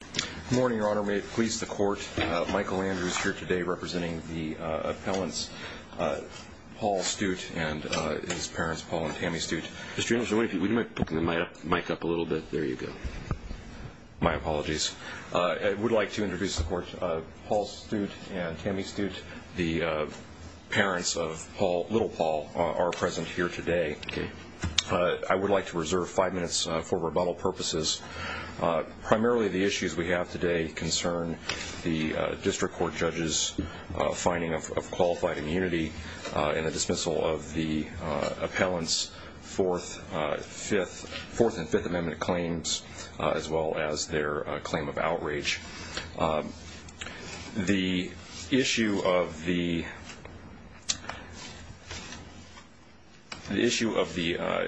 Good morning, Your Honor. May it please the Court, Michael Andrews here today representing the appellants, Paul Stoot and his parents, Paul and Tammy Stoot. Mr. Andrews, would you mind picking the mic up a little bit? There you go. My apologies. I would like to introduce the Court. Paul Stoot and Tammy Stoot, the parents of Paul, little Paul, are present here today. I would like to reserve five minutes for rebuttal purposes. Primarily the issues we have today concern the District Court judges' finding of qualified immunity and the dismissal of the appellants' Fourth and Fifth Amendment claims as well as their claim of outrage. The issue of the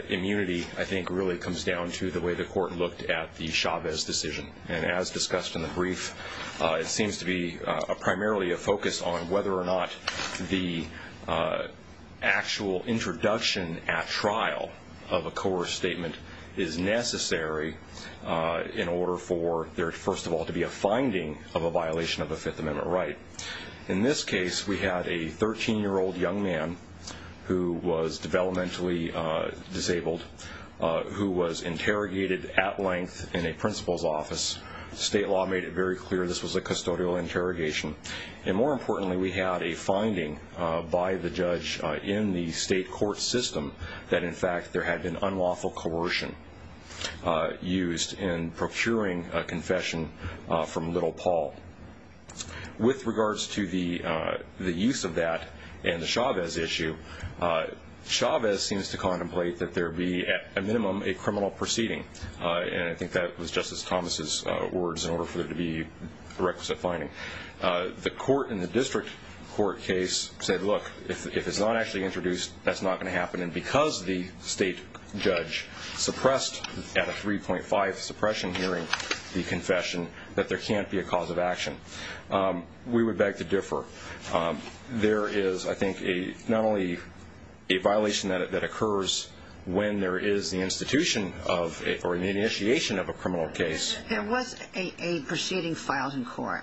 immunity, I think, really comes down to the way the Court looked at the Chavez decision. And as discussed in the brief, it seems to be primarily a focus on whether or not the actual introduction at trial of a coerced statement is necessary in order for there, first of all, to be a finding of a violation of a Fifth Amendment right. In this case, we had a 13-year-old young man who was developmentally disabled who was interrogated at length in a principal's office. State law made it very clear this was a custodial interrogation. And more importantly, we had a finding by the judge in the state court system that, in fact, there had been unlawful coercion used in procuring a confession from little Paul. With regards to the use of that in the Chavez issue, Chavez seems to contemplate that there be, at a minimum, a criminal proceeding. And I think that was Justice Thomas' words in order for there to be a requisite finding. The court in the district court case said, look, if it's not actually introduced, that's not going to happen. And because the state judge suppressed at a 3.5 suppression hearing the confession, that there can't be a cause of action. We would beg to differ. There is, I think, not only a violation that occurs when there is the institution of or the initiation of a criminal case. There was a proceeding filed in court.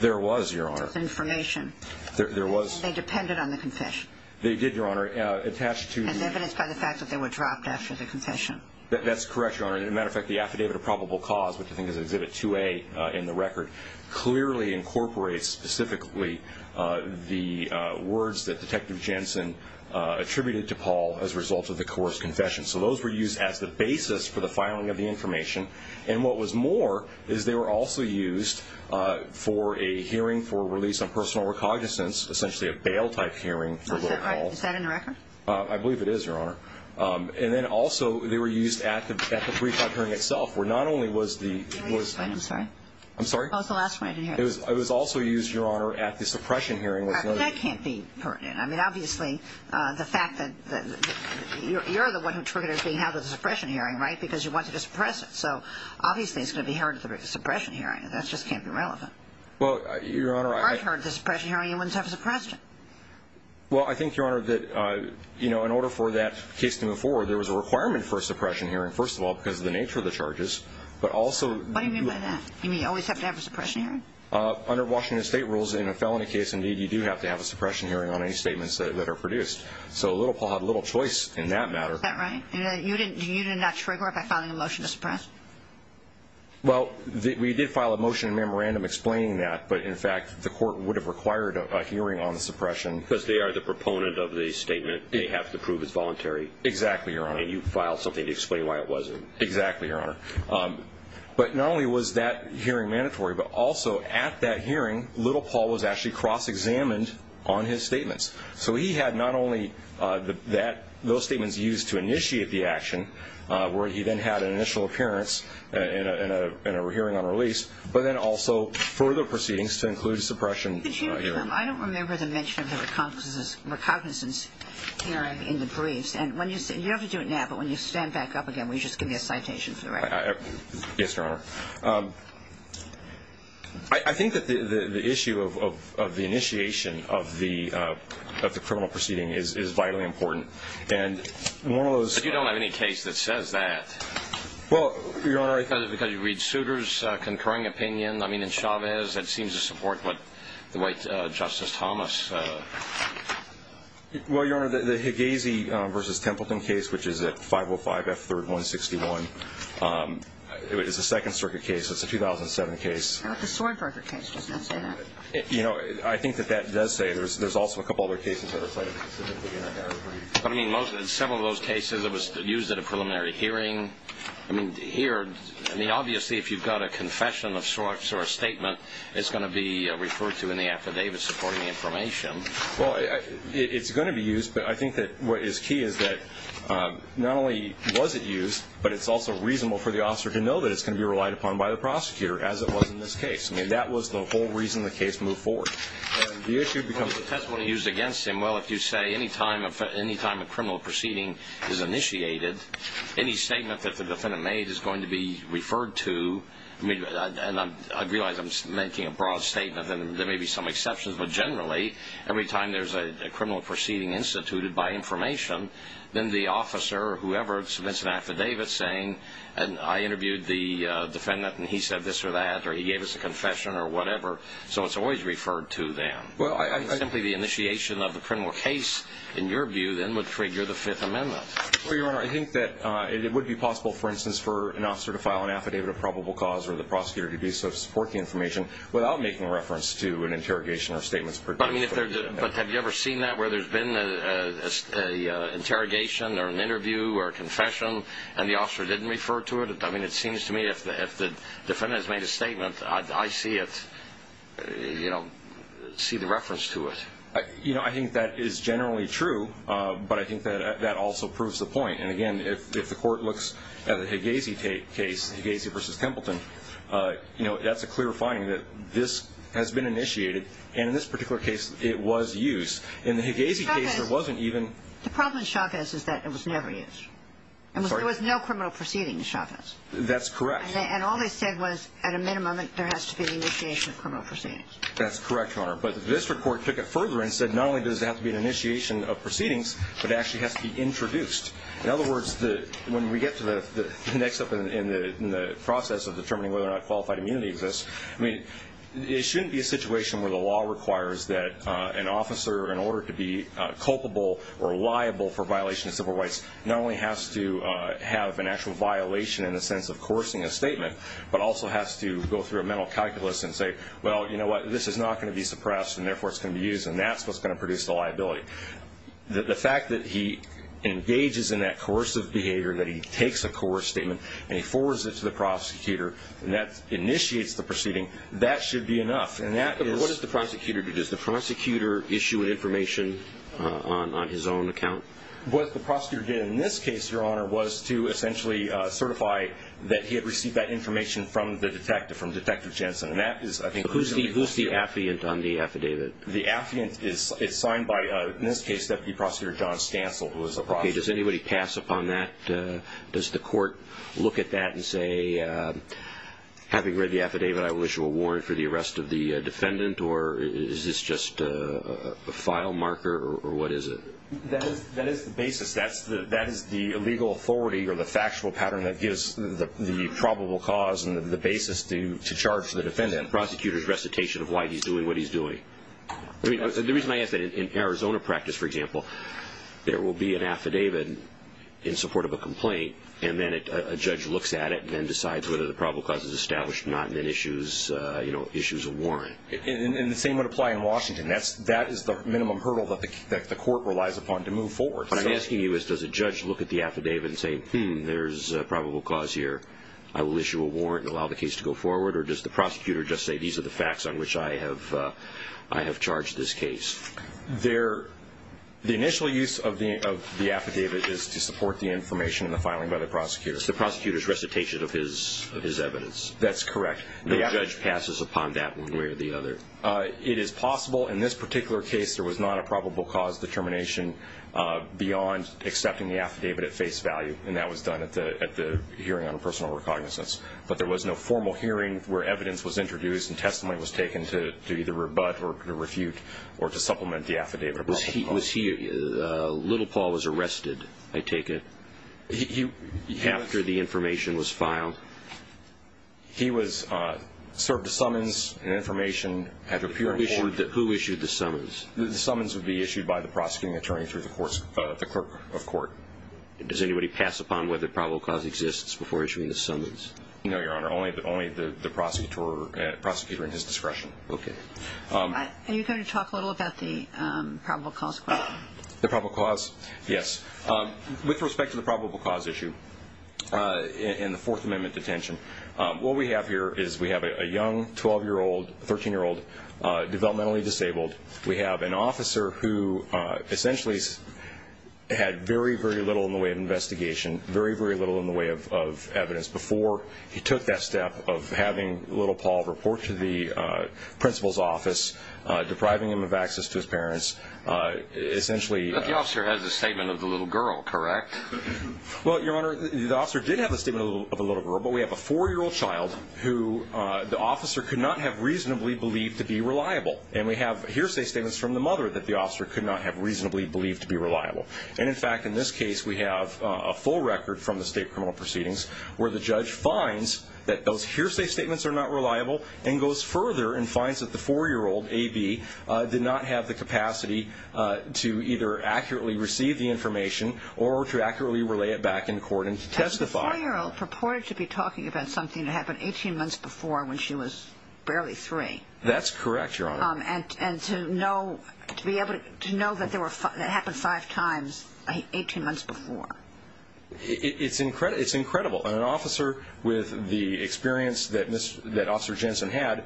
There was, Your Honor. With information. There was. They depended on the confession. They did, Your Honor, attached to the- As evidenced by the fact that they were dropped after the confession. That's correct, Your Honor. And, as a matter of fact, the affidavit of probable cause, which I think is Exhibit 2A in the record, clearly incorporates specifically the words that Detective Jensen attributed to Paul as a result of the coerced confession. So those were used as the basis for the filing of the information. And what was more is they were also used for a hearing for release on personal recognizance, essentially a bail-type hearing. Is that in the record? I believe it is, Your Honor. And then, also, they were used at the free-type hearing itself, where not only was the- I'm sorry. I'm sorry? That was the last one I didn't hear. It was also used, Your Honor, at the suppression hearing. That can't be pertinent. I mean, obviously, the fact that you're the one who triggered us being held at the suppression hearing, right, because you wanted to suppress it. So, obviously, it's going to be heard at the suppression hearing. That just can't be relevant. Well, Your Honor, I- If it weren't heard at the suppression hearing, you wouldn't have suppressed it. Well, I think, Your Honor, that, you know, in order for that case to move forward, there was a requirement for a suppression hearing, first of all, because of the nature of the charges. But also- What do you mean by that? You mean you always have to have a suppression hearing? Under Washington State rules, in a felony case, indeed, you do have to have a suppression hearing on any statements that are produced. So Little Paul had little choice in that matter. Is that right? You did not trigger it by filing a motion to suppress? Well, we did file a motion in memorandum explaining that. But, in fact, the court would have required a hearing on the suppression- Because they are the proponent of the statement. They have to prove it's voluntary. Exactly, Your Honor. And you filed something to explain why it wasn't. Exactly, Your Honor. But not only was that hearing mandatory, but also, at that hearing, Little Paul was actually cross-examined on his statements. So he had not only those statements used to initiate the action, where he then had an initial appearance in a hearing on release, but then also further proceedings to include suppression hearings. I don't remember the mention of the recognizance hearing in the briefs. And you don't have to do it now, but when you stand back up again, will you just give me a citation for the record? Yes, Your Honor. I think that the issue of the initiation of the criminal proceeding is vitally important. And one of those- But you don't have any case that says that. Well, Your Honor- Because you read Souter's concurring opinion. I mean, in Chavez, that seems to support what the White Justice Thomas- Well, Your Honor, the Hegazy v. Templeton case, which is at 505 F. 3rd, 161, is a Second Circuit case. It's a 2007 case. The Sordberger case does not say that. You know, I think that that does say it. There's also a couple other cases that are cited specifically in that category. But, I mean, in several of those cases, it was used at a preliminary hearing. I mean, here, I mean, obviously, if you've got a confession of sorts or a statement, it's going to be referred to in the affidavit supporting information. Well, it's going to be used. But I think that what is key is that not only was it used, but it's also reasonable for the officer to know that it's going to be relied upon by the prosecutor, as it was in this case. I mean, that was the whole reason the case moved forward. And the issue becomes- Well, the testimony used against him, well, if you say, anytime a criminal proceeding is initiated, any statement that the defendant made is going to be referred to. And I realize I'm making a broad statement, and there may be some exceptions. But generally, every time there's a criminal proceeding instituted by information, then the officer or whoever submits an affidavit saying, I interviewed the defendant, and he said this or that, or he gave us a confession or whatever. So it's always referred to then. Simply the initiation of the criminal case, in your view, then would trigger the Fifth Amendment. Well, Your Honor, I think that it would be possible, for instance, for an officer to file an affidavit of probable cause or the prosecutor to do so to support the information without making reference to an interrogation or statements- But have you ever seen that, where there's been an interrogation or an interview or a confession, and the officer didn't refer to it? I mean, it seems to me if the defendant has made a statement, I see it, you know, see the reference to it. You know, I think that is generally true, but I think that also proves the point. And again, if the court looks at the Hegazy case, Hegazy v. Templeton, you know, that's a clear finding that this has been initiated, and in this particular case it was used. In the Hegazy case, there wasn't even- The problem in Chavez is that it was never used. There was no criminal proceeding in Chavez. That's correct. And all they said was, at a minimum, there has to be an initiation of criminal proceedings. That's correct, Your Honor. But the district court took it further and said not only does it have to be an initiation of proceedings, but it actually has to be introduced. In other words, when we get to the next step in the process of determining whether or not qualified immunity exists, I mean, it shouldn't be a situation where the law requires that an officer, in order to be culpable or liable for violation of civil rights, not only has to have an actual violation in the sense of coercing a statement, but also has to go through a mental calculus and say, well, you know what, this is not going to be suppressed, and therefore it's going to be used, and that's what's going to produce the liability. The fact that he engages in that coercive behavior, that he takes a coerced statement, and he forwards it to the prosecutor, and that initiates the proceeding, that should be enough. And that is- What does the prosecutor do? Does the prosecutor issue information on his own account? What the prosecutor did in this case, Your Honor, was to essentially certify that he had received that information from the detective, from Detective Jensen. And that is, I think- Who's the affidavit on the affidavit? The affidavit is signed by, in this case, Deputy Prosecutor John Stansel, who is a prosecutor. Okay, does anybody pass upon that? Does the court look at that and say, having read the affidavit, I wish you a warrant for the arrest of the defendant, or is this just a file marker, or what is it? That is the basis. That is the legal authority or the factual pattern that gives the probable cause and the basis to charge the defendant, the prosecutor's recitation of why he's doing what he's doing. The reason I ask that, in Arizona practice, for example, there will be an affidavit in support of a complaint, and then a judge looks at it and then decides whether the probable cause is established or not, and then issues a warrant. And the same would apply in Washington. That is the minimum hurdle that the court relies upon to move forward. What I'm asking you is, does a judge look at the affidavit and say, hmm, there's a probable cause here, I will issue a warrant and allow the case to go forward, or does the prosecutor just say, these are the facts on which I have charged this case? The initial use of the affidavit is to support the information in the filing by the prosecutor. It's the prosecutor's recitation of his evidence. That's correct. No judge passes upon that one way or the other. It is possible in this particular case there was not a probable cause determination beyond accepting the affidavit at face value, and that was done at the hearing on personal recognizance. But there was no formal hearing where evidence was introduced and testimony was taken to either rebut or refute or to supplement the affidavit. Was he, Little Paul was arrested, I take it, after the information was filed? He was served a summons and information at the hearing. Who issued the summons? The summons would be issued by the prosecuting attorney through the clerk of court. Does anybody pass upon whether probable cause exists before issuing the summons? No, Your Honor, only the prosecutor at his discretion. Okay. Are you going to talk a little about the probable cause question? The probable cause? Yes. With respect to the probable cause issue in the Fourth Amendment detention, what we have here is we have a young 12-year-old, 13-year-old, developmentally disabled. We have an officer who essentially had very, very little in the way of investigation, very, very little in the way of evidence before he took that step of having Little Paul report to the principal's office, depriving him of access to his parents. But the officer has a statement of the little girl, correct? Well, Your Honor, the officer did have a statement of the little girl, but we have a 4-year-old child who the officer could not have reasonably believed to be reliable. And we have hearsay statements from the mother that the officer could not have reasonably believed to be reliable. And, in fact, in this case we have a full record from the state criminal proceedings where the judge finds that those hearsay statements are not reliable and goes further and finds that the 4-year-old, A.B., did not have the capacity to either accurately receive the information or to accurately relay it back in court and to testify. The 4-year-old purported to be talking about something that happened 18 months before when she was barely 3. That's correct, Your Honor. And to know that it happened five times 18 months before. It's incredible. An officer with the experience that Officer Jensen had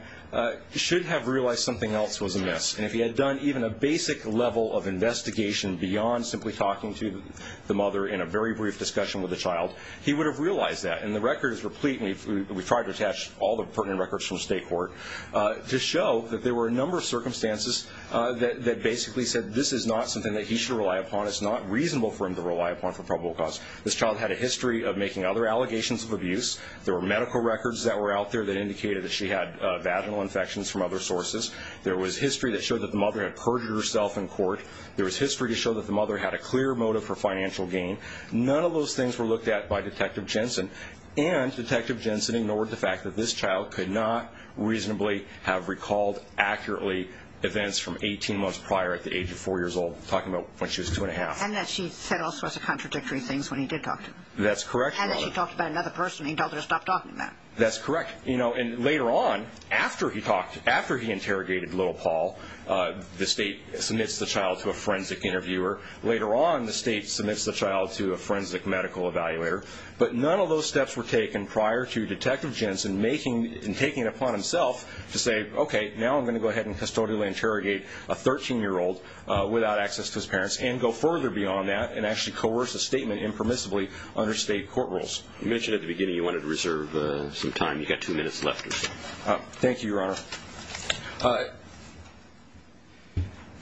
should have realized something else was amiss. And if he had done even a basic level of investigation beyond simply talking to the mother in a very brief discussion with the child, he would have realized that. And the record is replete, and we've tried to attach all the pertinent records from state court, to show that there were a number of circumstances that basically said this is not something that he should rely upon, it's not reasonable for him to rely upon for probable cause. This child had a history of making other allegations of abuse. There were medical records that were out there that indicated that she had vaginal infections from other sources. There was history that showed that the mother had perjured herself in court. There was history to show that the mother had a clear motive for financial gain. None of those things were looked at by Detective Jensen. And Detective Jensen ignored the fact that this child could not reasonably have recalled accurately events from 18 months prior at the age of 4 years old, talking about when she was 2 1⁄2. And that she said all sorts of contradictory things when he did talk to her. That's correct, Your Honor. And that she talked about another person and he told her to stop talking about it. That's correct. You know, and later on, after he talked, after he interrogated little Paul, the state submits the child to a forensic interviewer. Later on, the state submits the child to a forensic medical evaluator. But none of those steps were taken prior to Detective Jensen making, to say, okay, now I'm going to go ahead and custodially interrogate a 13-year-old without access to his parents and go further beyond that and actually coerce a statement impermissibly under state court rules. You mentioned at the beginning you wanted to reserve some time. You've got two minutes left or so. Thank you, Your Honor.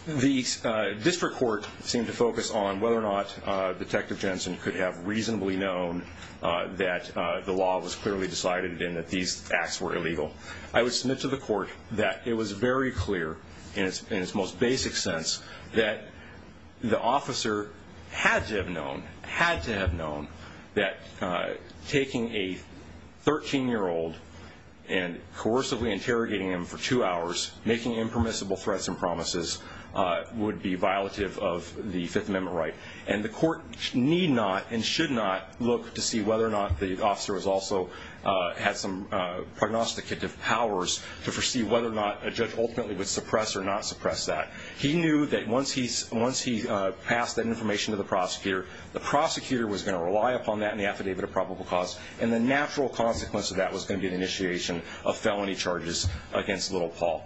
The district court seemed to focus on whether or not Detective Jensen could have reasonably known that the law was clearly decided and that these acts were illegal. I would submit to the court that it was very clear, in its most basic sense, that the officer had to have known, had to have known, that taking a 13-year-old and coercively interrogating him for two hours, making impermissible threats and promises, would be violative of the Fifth Amendment right. And the court need not and should not look to see whether or not the officer also had some prognosticative powers to foresee whether or not a judge ultimately would suppress or not suppress that. He knew that once he passed that information to the prosecutor, the prosecutor was going to rely upon that in the affidavit of probable cause, and the natural consequence of that was going to be the initiation of felony charges against little Paul.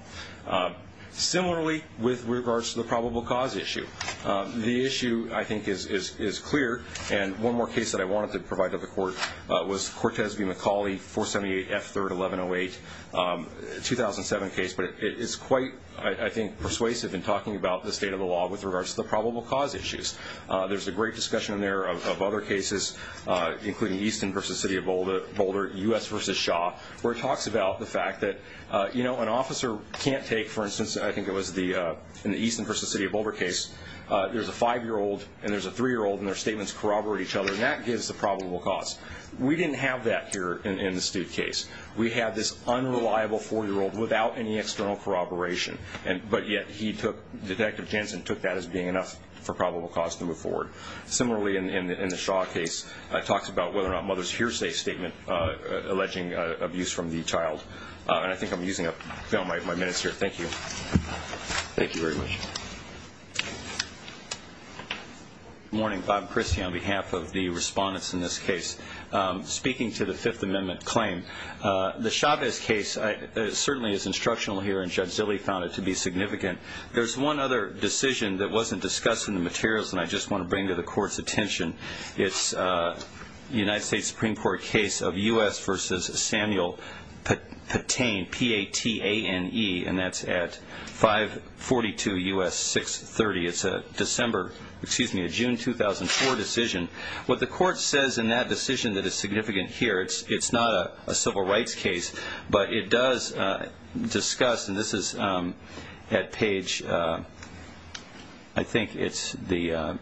Similarly, with regards to the probable cause issue, the issue, I think, is clear, and one more case that I wanted to provide to the court was Cortez v. McCauley, 478 F. 3rd, 1108, a 2007 case, but it's quite, I think, persuasive in talking about the state of the law with regards to the probable cause issues. There's a great discussion in there of other cases, including Easton v. City of Boulder, U.S. v. Shaw, where it talks about the fact that an officer can't take, for instance, I think it was in the Easton v. City of Boulder case, there's a 5-year-old and there's a 3-year-old and their statements corroborate each other, and that gives the probable cause. We didn't have that here in the Stute case. We had this unreliable 4-year-old without any external corroboration, but yet he took, Detective Jensen took that as being enough for probable cause to move forward. Similarly, in the Shaw case, it talks about whether or not mother's hearsay statement alleging abuse from the child, and I think I'm using up my minutes here. Thank you. Thank you very much. Good morning. Bob Christie on behalf of the respondents in this case. Speaking to the Fifth Amendment claim, the Chavez case certainly is instructional here, and Judge Zilley found it to be significant. There's one other decision that wasn't discussed in the materials and I just want to bring to the Court's attention. It's a United States Supreme Court case of U.S. v. Samuel Patane, P-A-T-A-N-E, and that's at 542 U.S. 630. It's a December, excuse me, a June 2004 decision. What the Court says in that decision that is significant here, it's not a civil rights case, but it does discuss, and this is at page, I think it's the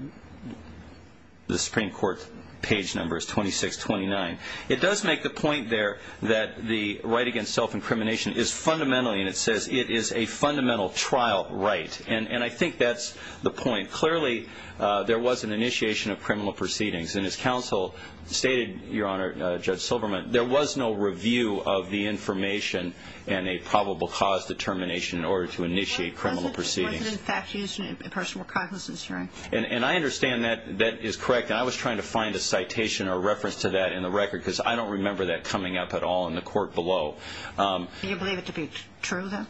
Supreme Court page number is 2629. It does make the point there that the right against self-incrimination is fundamentally, and it says it is a fundamental trial right, and I think that's the point. Clearly, there was an initiation of criminal proceedings, and as counsel stated, Your Honor, Judge Silverman, there was no review of the information and a probable cause determination in order to initiate criminal proceedings. Was it in fact used in a personal consciousness hearing? And I understand that that is correct, and I was trying to find a citation or reference to that in the record because I don't remember that coming up at all in the Court below. Do you believe it to be true, then?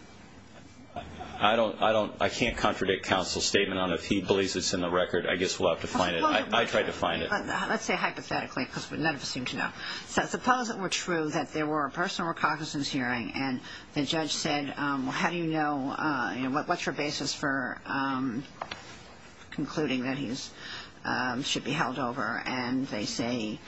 I can't contradict counsel's statement on if he believes it's in the record. I guess we'll have to find it. I tried to find it. Let's say hypothetically because none of us seem to know. So suppose it were true that there were a personal consciousness hearing, and the judge said, well, how do you know, what's your basis for concluding that he should be held over, and they say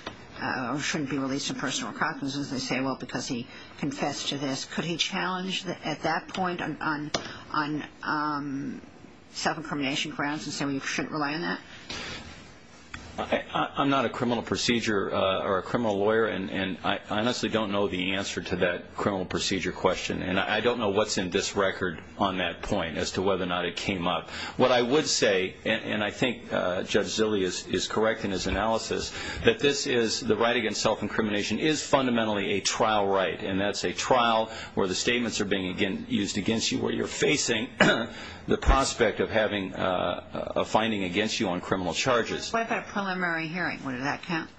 he shouldn't be released in personal consciousness. They say, well, because he confessed to this. Could he challenge at that point on self-incrimination grounds and say, well, you shouldn't rely on that? I'm not a criminal procedure or a criminal lawyer, and I honestly don't know the answer to that criminal procedure question, and I don't know what's in this record on that point as to whether or not it came up. What I would say, and I think Judge Zille is correct in his analysis, that this is the right against self-incrimination is fundamentally a trial right, and that's a trial where the statements are being used against you, where you're facing the prospect of having a finding against you on criminal charges. What about a preliminary hearing? Would that count?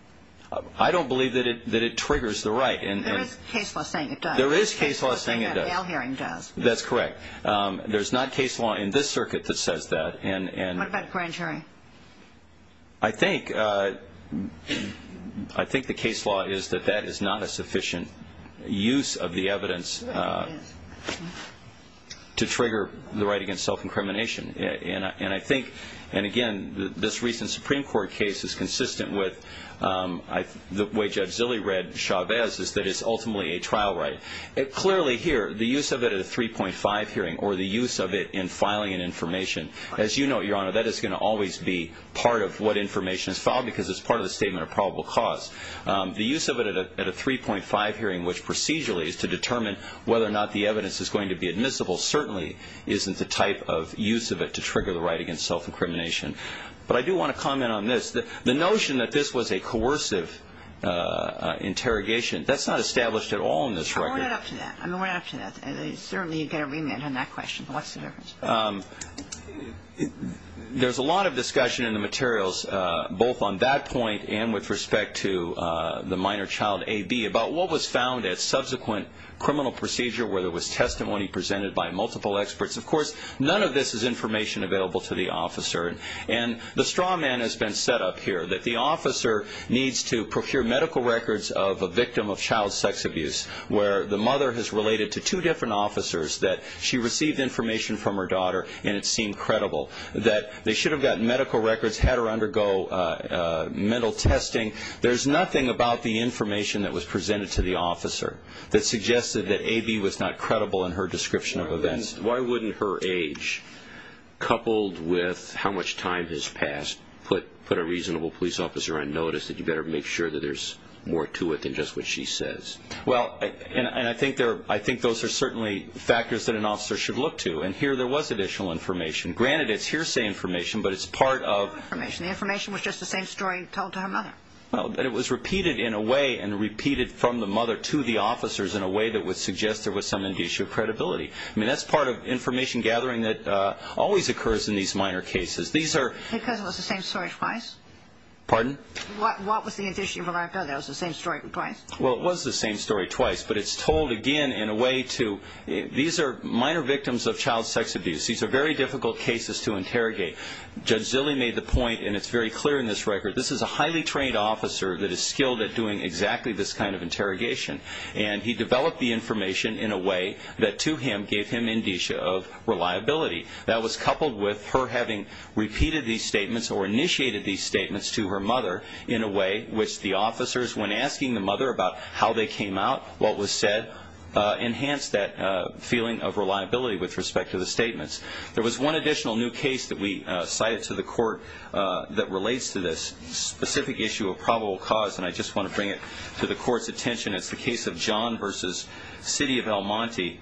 I don't believe that it triggers the right. There is case law saying it does. There is case law saying it does. That's correct. There's not case law in this circuit that says that. What about grand jury? I think the case law is that that is not a sufficient use of the evidence to trigger the right against self-incrimination, and I think, and again, this recent Supreme Court case is consistent with the way Judge Zille read Chavez is that it's ultimately a trial right. Clearly here, the use of it at a 3.5 hearing or the use of it in filing an information, as you know, Your Honor, that is going to always be part of what information is filed because it's part of the statement of probable cause. The use of it at a 3.5 hearing, which procedurally is to determine whether or not the evidence is going to be admissible, certainly isn't the type of use of it to trigger the right against self-incrimination. But I do want to comment on this. The notion that this was a coercive interrogation, that's not established at all in this record. We're not up to that. I mean, we're not up to that. Certainly you get a remand on that question. What's the difference? There's a lot of discussion in the materials, both on that point and with respect to the minor child, A.B., about what was found at subsequent criminal procedure where there was testimony presented by multiple experts. Of course, none of this is information available to the officer, and the straw man has been set up here that the officer needs to procure medical records of a victim of child sex abuse where the mother has related to two different officers that she received information from her daughter and it seemed credible that they should have gotten medical records, had her undergo mental testing. There's nothing about the information that was presented to the officer that suggested that A.B. was not credible in her description of events. Why wouldn't her age, coupled with how much time has passed, put a reasonable police officer on notice that you better make sure that there's more to it than just what she says? Well, and I think those are certainly factors that an officer should look to, and here there was additional information. Granted, it's hearsay information, but it's part of... It's not information. The information was just the same story told to her mother. Well, but it was repeated in a way and repeated from the mother to the officers in a way that would suggest there was some indicia of credibility. I mean, that's part of information gathering that always occurs in these minor cases. Because it was the same story twice? Pardon? What was the indicia of reliability? It was the same story twice? Well, it was the same story twice, but it's told again in a way to... These are minor victims of child sex abuse. These are very difficult cases to interrogate. Judge Zille made the point, and it's very clear in this record, this is a highly trained officer that is skilled at doing exactly this kind of interrogation, and he developed the information in a way that to him gave him indicia of reliability. That was coupled with her having repeated these statements or initiated these statements to her mother in a way which the officers, when asking the mother about how they came out, what was said, enhanced that feeling of reliability with respect to the statements. There was one additional new case that we cited to the court that relates to this specific issue of probable cause, and I just want to bring it to the court's attention. It's the case of John v. City of El Monte.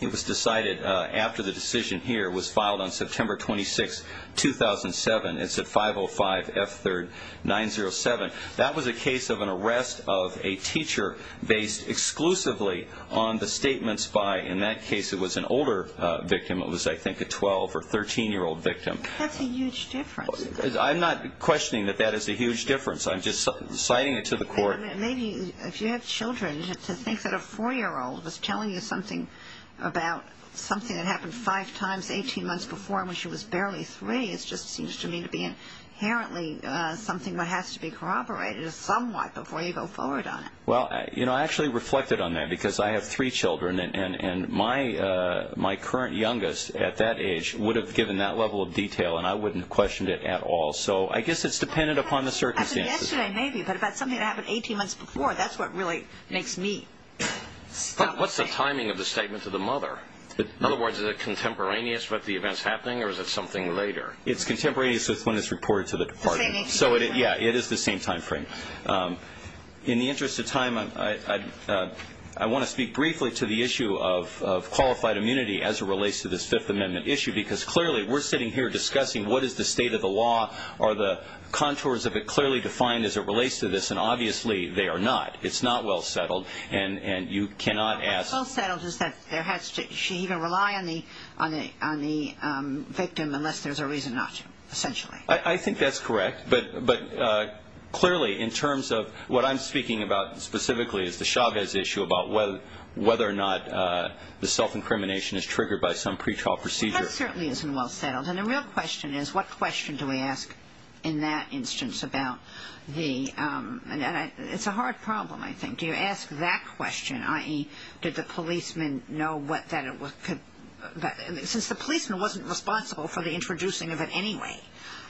It was decided after the decision here was filed on September 26, 2007. It's at 505 F3rd 907. That was a case of an arrest of a teacher based exclusively on the statements by, in that case it was an older victim, it was, I think, a 12- or 13-year-old victim. That's a huge difference. I'm not questioning that that is a huge difference. I'm just citing it to the court. Maybe if you have children, to think that a 4-year-old was telling you something about something that happened 5 times 18 months before when she was barely 3, it just seems to me to be inherently something that has to be corroborated somewhat before you go forward on it. Well, you know, I actually reflected on that because I have three children, and my current youngest at that age would have given that level of detail, and I wouldn't have questioned it at all. So I guess it's dependent upon the circumstances. As of yesterday, maybe, but if that's something that happened 18 months before, that's what really makes me stumped. But what's the timing of the statement to the mother? In other words, is it contemporaneous with the events happening, or is it something later? It's contemporaneous with when it's reported to the department. So, yeah, it is the same time frame. In the interest of time, I want to speak briefly to the issue of qualified immunity as it relates to this Fifth Amendment issue because clearly we're sitting here discussing what is the state of the law, are the contours of it clearly defined as it relates to this, and obviously they are not. It's not well settled, and you cannot ask. Well settled is that she can rely on the victim unless there's a reason not to, essentially. I think that's correct, but clearly in terms of what I'm speaking about specifically is the Chavez issue about whether or not the self-incrimination is triggered by some pretrial procedure. That certainly isn't well settled, and the real question is what question do we ask in that instance about the ‑‑ and it's a hard problem, I think. Do you ask that question, i.e., did the policeman know that it was ‑‑ since the policeman wasn't responsible for the introducing of it anyway,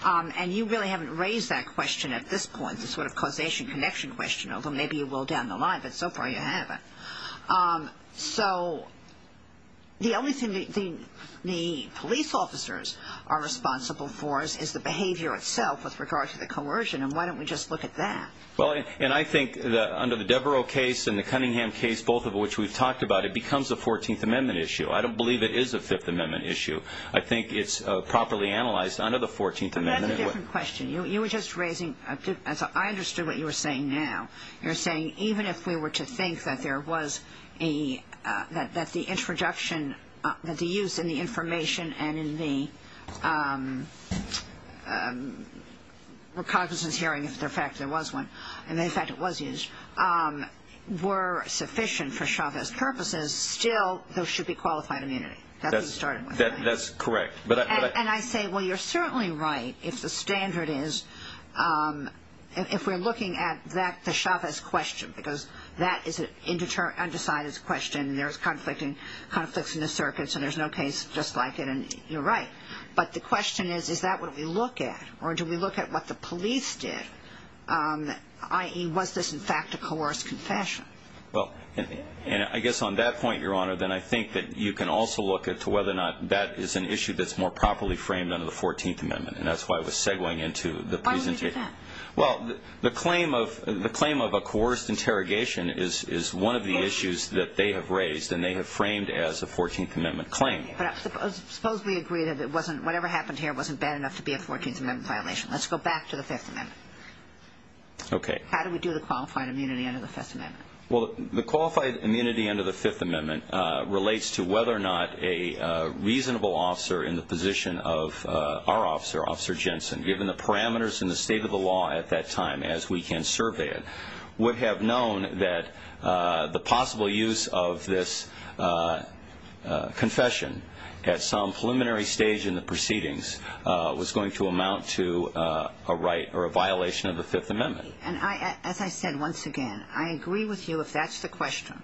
and you really haven't raised that question at this point, the sort of causation connection question, although maybe you will down the line, but so far you haven't. So the only thing the police officers are responsible for is the behavior itself with regard to the coercion, and why don't we just look at that? Well, and I think that under the Devereux case and the Cunningham case, both of which we've talked about, it becomes a 14th Amendment issue. I don't believe it is a 5th Amendment issue. I think it's properly analyzed under the 14th Amendment. But that's a different question. You were just raising ‑‑ I understood what you were saying now. You're saying even if we were to think that there was a ‑‑ that the introduction, that the use in the information and in the recognizance hearing, if, in fact, there was one, and, in fact, it was used, were sufficient for Chavez's purposes, still there should be qualified immunity. That's what you started with. That's correct. And I say, well, you're certainly right if the standard is, if we're looking at the Chavez question, because that is an undecided question and there's conflicts in the circuits and there's no case just like it, and you're right. But the question is, is that what we look at? Or do we look at what the police did, i.e., was this, in fact, a coerced confession? Well, I guess on that point, Your Honor, then I think that you can also look at whether or not that is an issue that's more properly framed under the 14th Amendment. And that's why I was segwaying into the presentation. Why would you do that? Well, the claim of a coerced interrogation is one of the issues that they have raised, and they have framed as a 14th Amendment claim. But suppose we agree that it wasn't, whatever happened here wasn't bad enough to be a 14th Amendment violation. Let's go back to the Fifth Amendment. Okay. How do we do the qualified immunity under the Fifth Amendment? Well, the qualified immunity under the Fifth Amendment relates to whether or not a reasonable officer in the position of our officer, Officer Jensen, given the parameters and the state of the law at that time, as we can survey it, would have known that the possible use of this confession at some preliminary stage in the proceedings was going to amount to a right or a violation of the Fifth Amendment. And as I said once again, I agree with you if that's the question.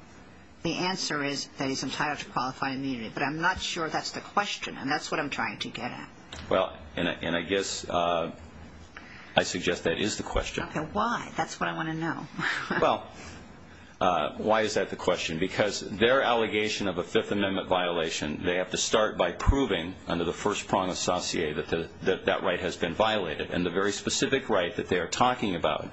The answer is that he's entitled to qualified immunity. But I'm not sure that's the question, and that's what I'm trying to get at. Well, and I guess I suggest that is the question. Okay. Why? That's what I want to know. Well, why is that the question? Because their allegation of a Fifth Amendment violation, they have to start by proving under the first prong associate that that right has been violated. And the very specific right that they are talking about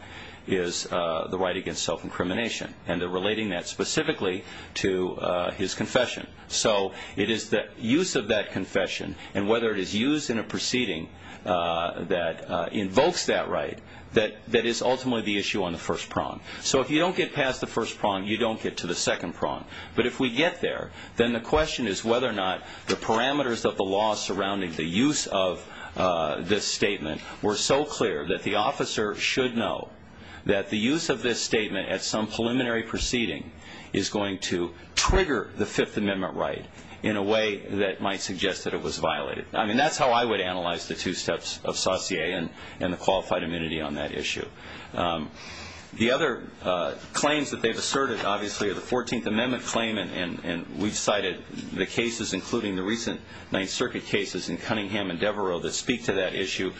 is the right against self-incrimination, and they're relating that specifically to his confession. So it is the use of that confession, and whether it is used in a proceeding that invokes that right, that is ultimately the issue on the first prong. So if you don't get past the first prong, you don't get to the second prong. But if we get there, then the question is whether or not the parameters of the law surrounding the use of this statement were so clear that the officer should know that the use of this statement at some preliminary proceeding is going to trigger the Fifth Amendment right in a way that might suggest that it was violated. I mean, that's how I would analyze the two steps of Saussure and the qualified immunity on that issue. The other claims that they've asserted, obviously, are the Fourteenth Amendment claim, and we've cited the cases, including the recent Ninth Circuit cases in Cunningham and Devereux, that speak to that issue.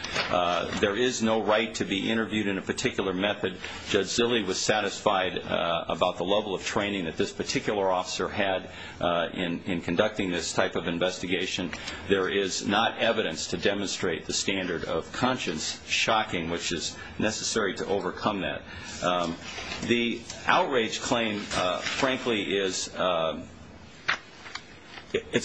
There is no right to be interviewed in a particular method. Judge Zille was satisfied about the level of training that this particular officer had in conducting this type of investigation. There is not evidence to demonstrate the standard of conscience. Shocking, which is necessary to overcome that. The outrage claim, frankly, is a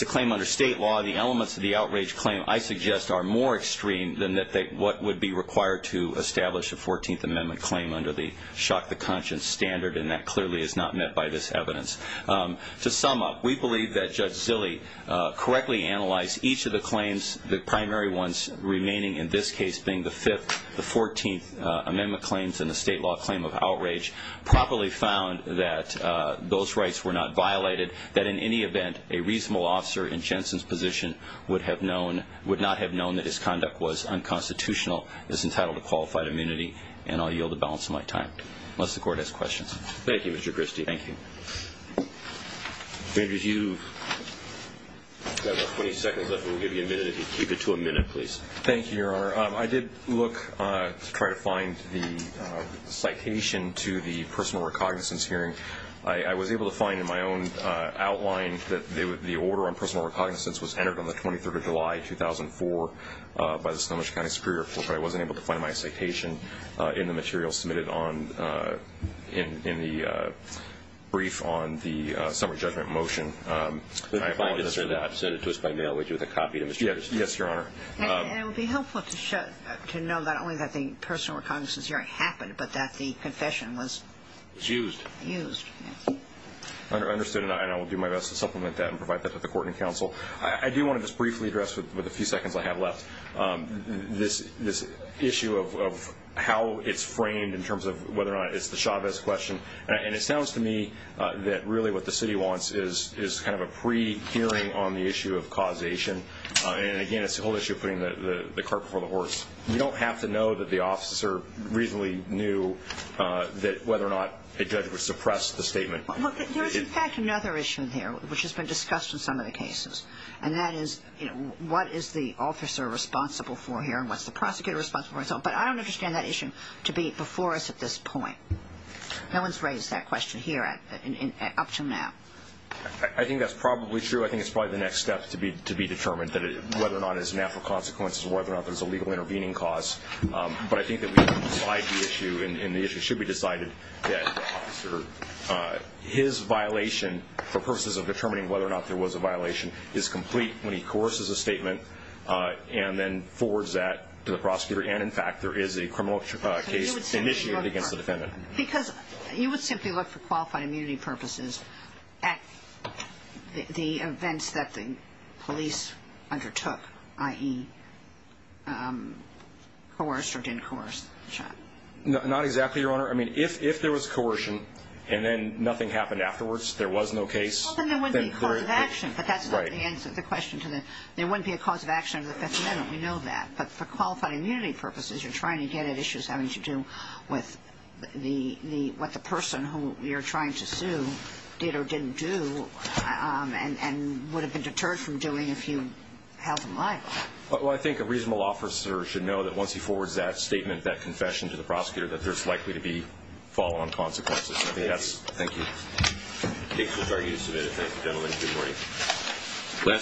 claim under state law. The elements of the outrage claim, I suggest, are more extreme than what would be required to establish a Fourteenth Amendment claim under the shock to conscience standard, and that clearly is not met by this evidence. To sum up, we believe that Judge Zille correctly analyzed each of the claims, the primary ones remaining in this case being the Fifth, the Fourteenth Amendment claims and the state law claim of outrage, properly found that those rights were not violated, that in any event a reasonable officer in Jensen's position would not have known that his conduct was unconstitutional, is entitled to qualified immunity, and I'll yield the balance of my time. Unless the Court has questions. Thank you, Mr. Christie. Thank you. Mr. Andrews, you've got about 20 seconds left. We'll give you a minute if you could keep it to a minute, please. Thank you, Your Honor. I did look to try to find the citation to the personal recognizance hearing. I was able to find in my own outline that the order on personal recognizance was entered on the 23rd of July, 2004, by the Snohomish County Superior Court, but I wasn't able to find my citation in the materials submitted in the brief on the summary judgment motion. I apologize for that. Send it to us by mail. We'll give you the copy. Yes, Your Honor. And it would be helpful to know not only that the personal recognizance hearing happened, but that the confession was used. Understood. And I will do my best to supplement that and provide that to the Court and Counsel. I do want to just briefly address, with the few seconds I have left, this issue of how it's framed in terms of whether or not it's the Chavez question. And it sounds to me that really what the city wants is kind of a pre-hearing on the issue of causation. And, again, it's the whole issue of putting the cart before the horse. We don't have to know that the officer reasonably knew that whether or not a judge would suppress the statement. Look, there is, in fact, another issue here, which has been discussed in some of the cases, and that is what is the officer responsible for here and what's the prosecutor responsible for. But I don't understand that issue to be before us at this point. No one's raised that question here up to now. I think that's probably true. I think it's probably the next step to be determined whether or not it's a natural consequence of whether or not there's a legal intervening cause. But I think that we can decide the issue, and the issue should be decided, that his violation, for purposes of determining whether or not there was a violation, is complete when he coerces a statement and then forwards that to the prosecutor. And, in fact, there is a criminal case initiated against the defendant. Because you would simply look, for qualified immunity purposes, at the events that the police undertook, i.e., coerced or didn't coerce the shot. Not exactly, Your Honor. I mean, if there was coercion and then nothing happened afterwards, there was no case. Well, then there wouldn't be a cause of action, but that's not the answer to the question. There wouldn't be a cause of action under the Fifth Amendment. We know that. But for qualified immunity purposes, you're trying to get at issues having to do with what the person who you're trying to sue did or didn't do and would have been deterred from doing if you held them liable. Well, I think a reasonable officer should know that once he forwards that statement, that confession to the prosecutor, that there's likely to be follow-on consequences. Thank you. The case was argued and submitted. Thank you, gentlemen. Good morning.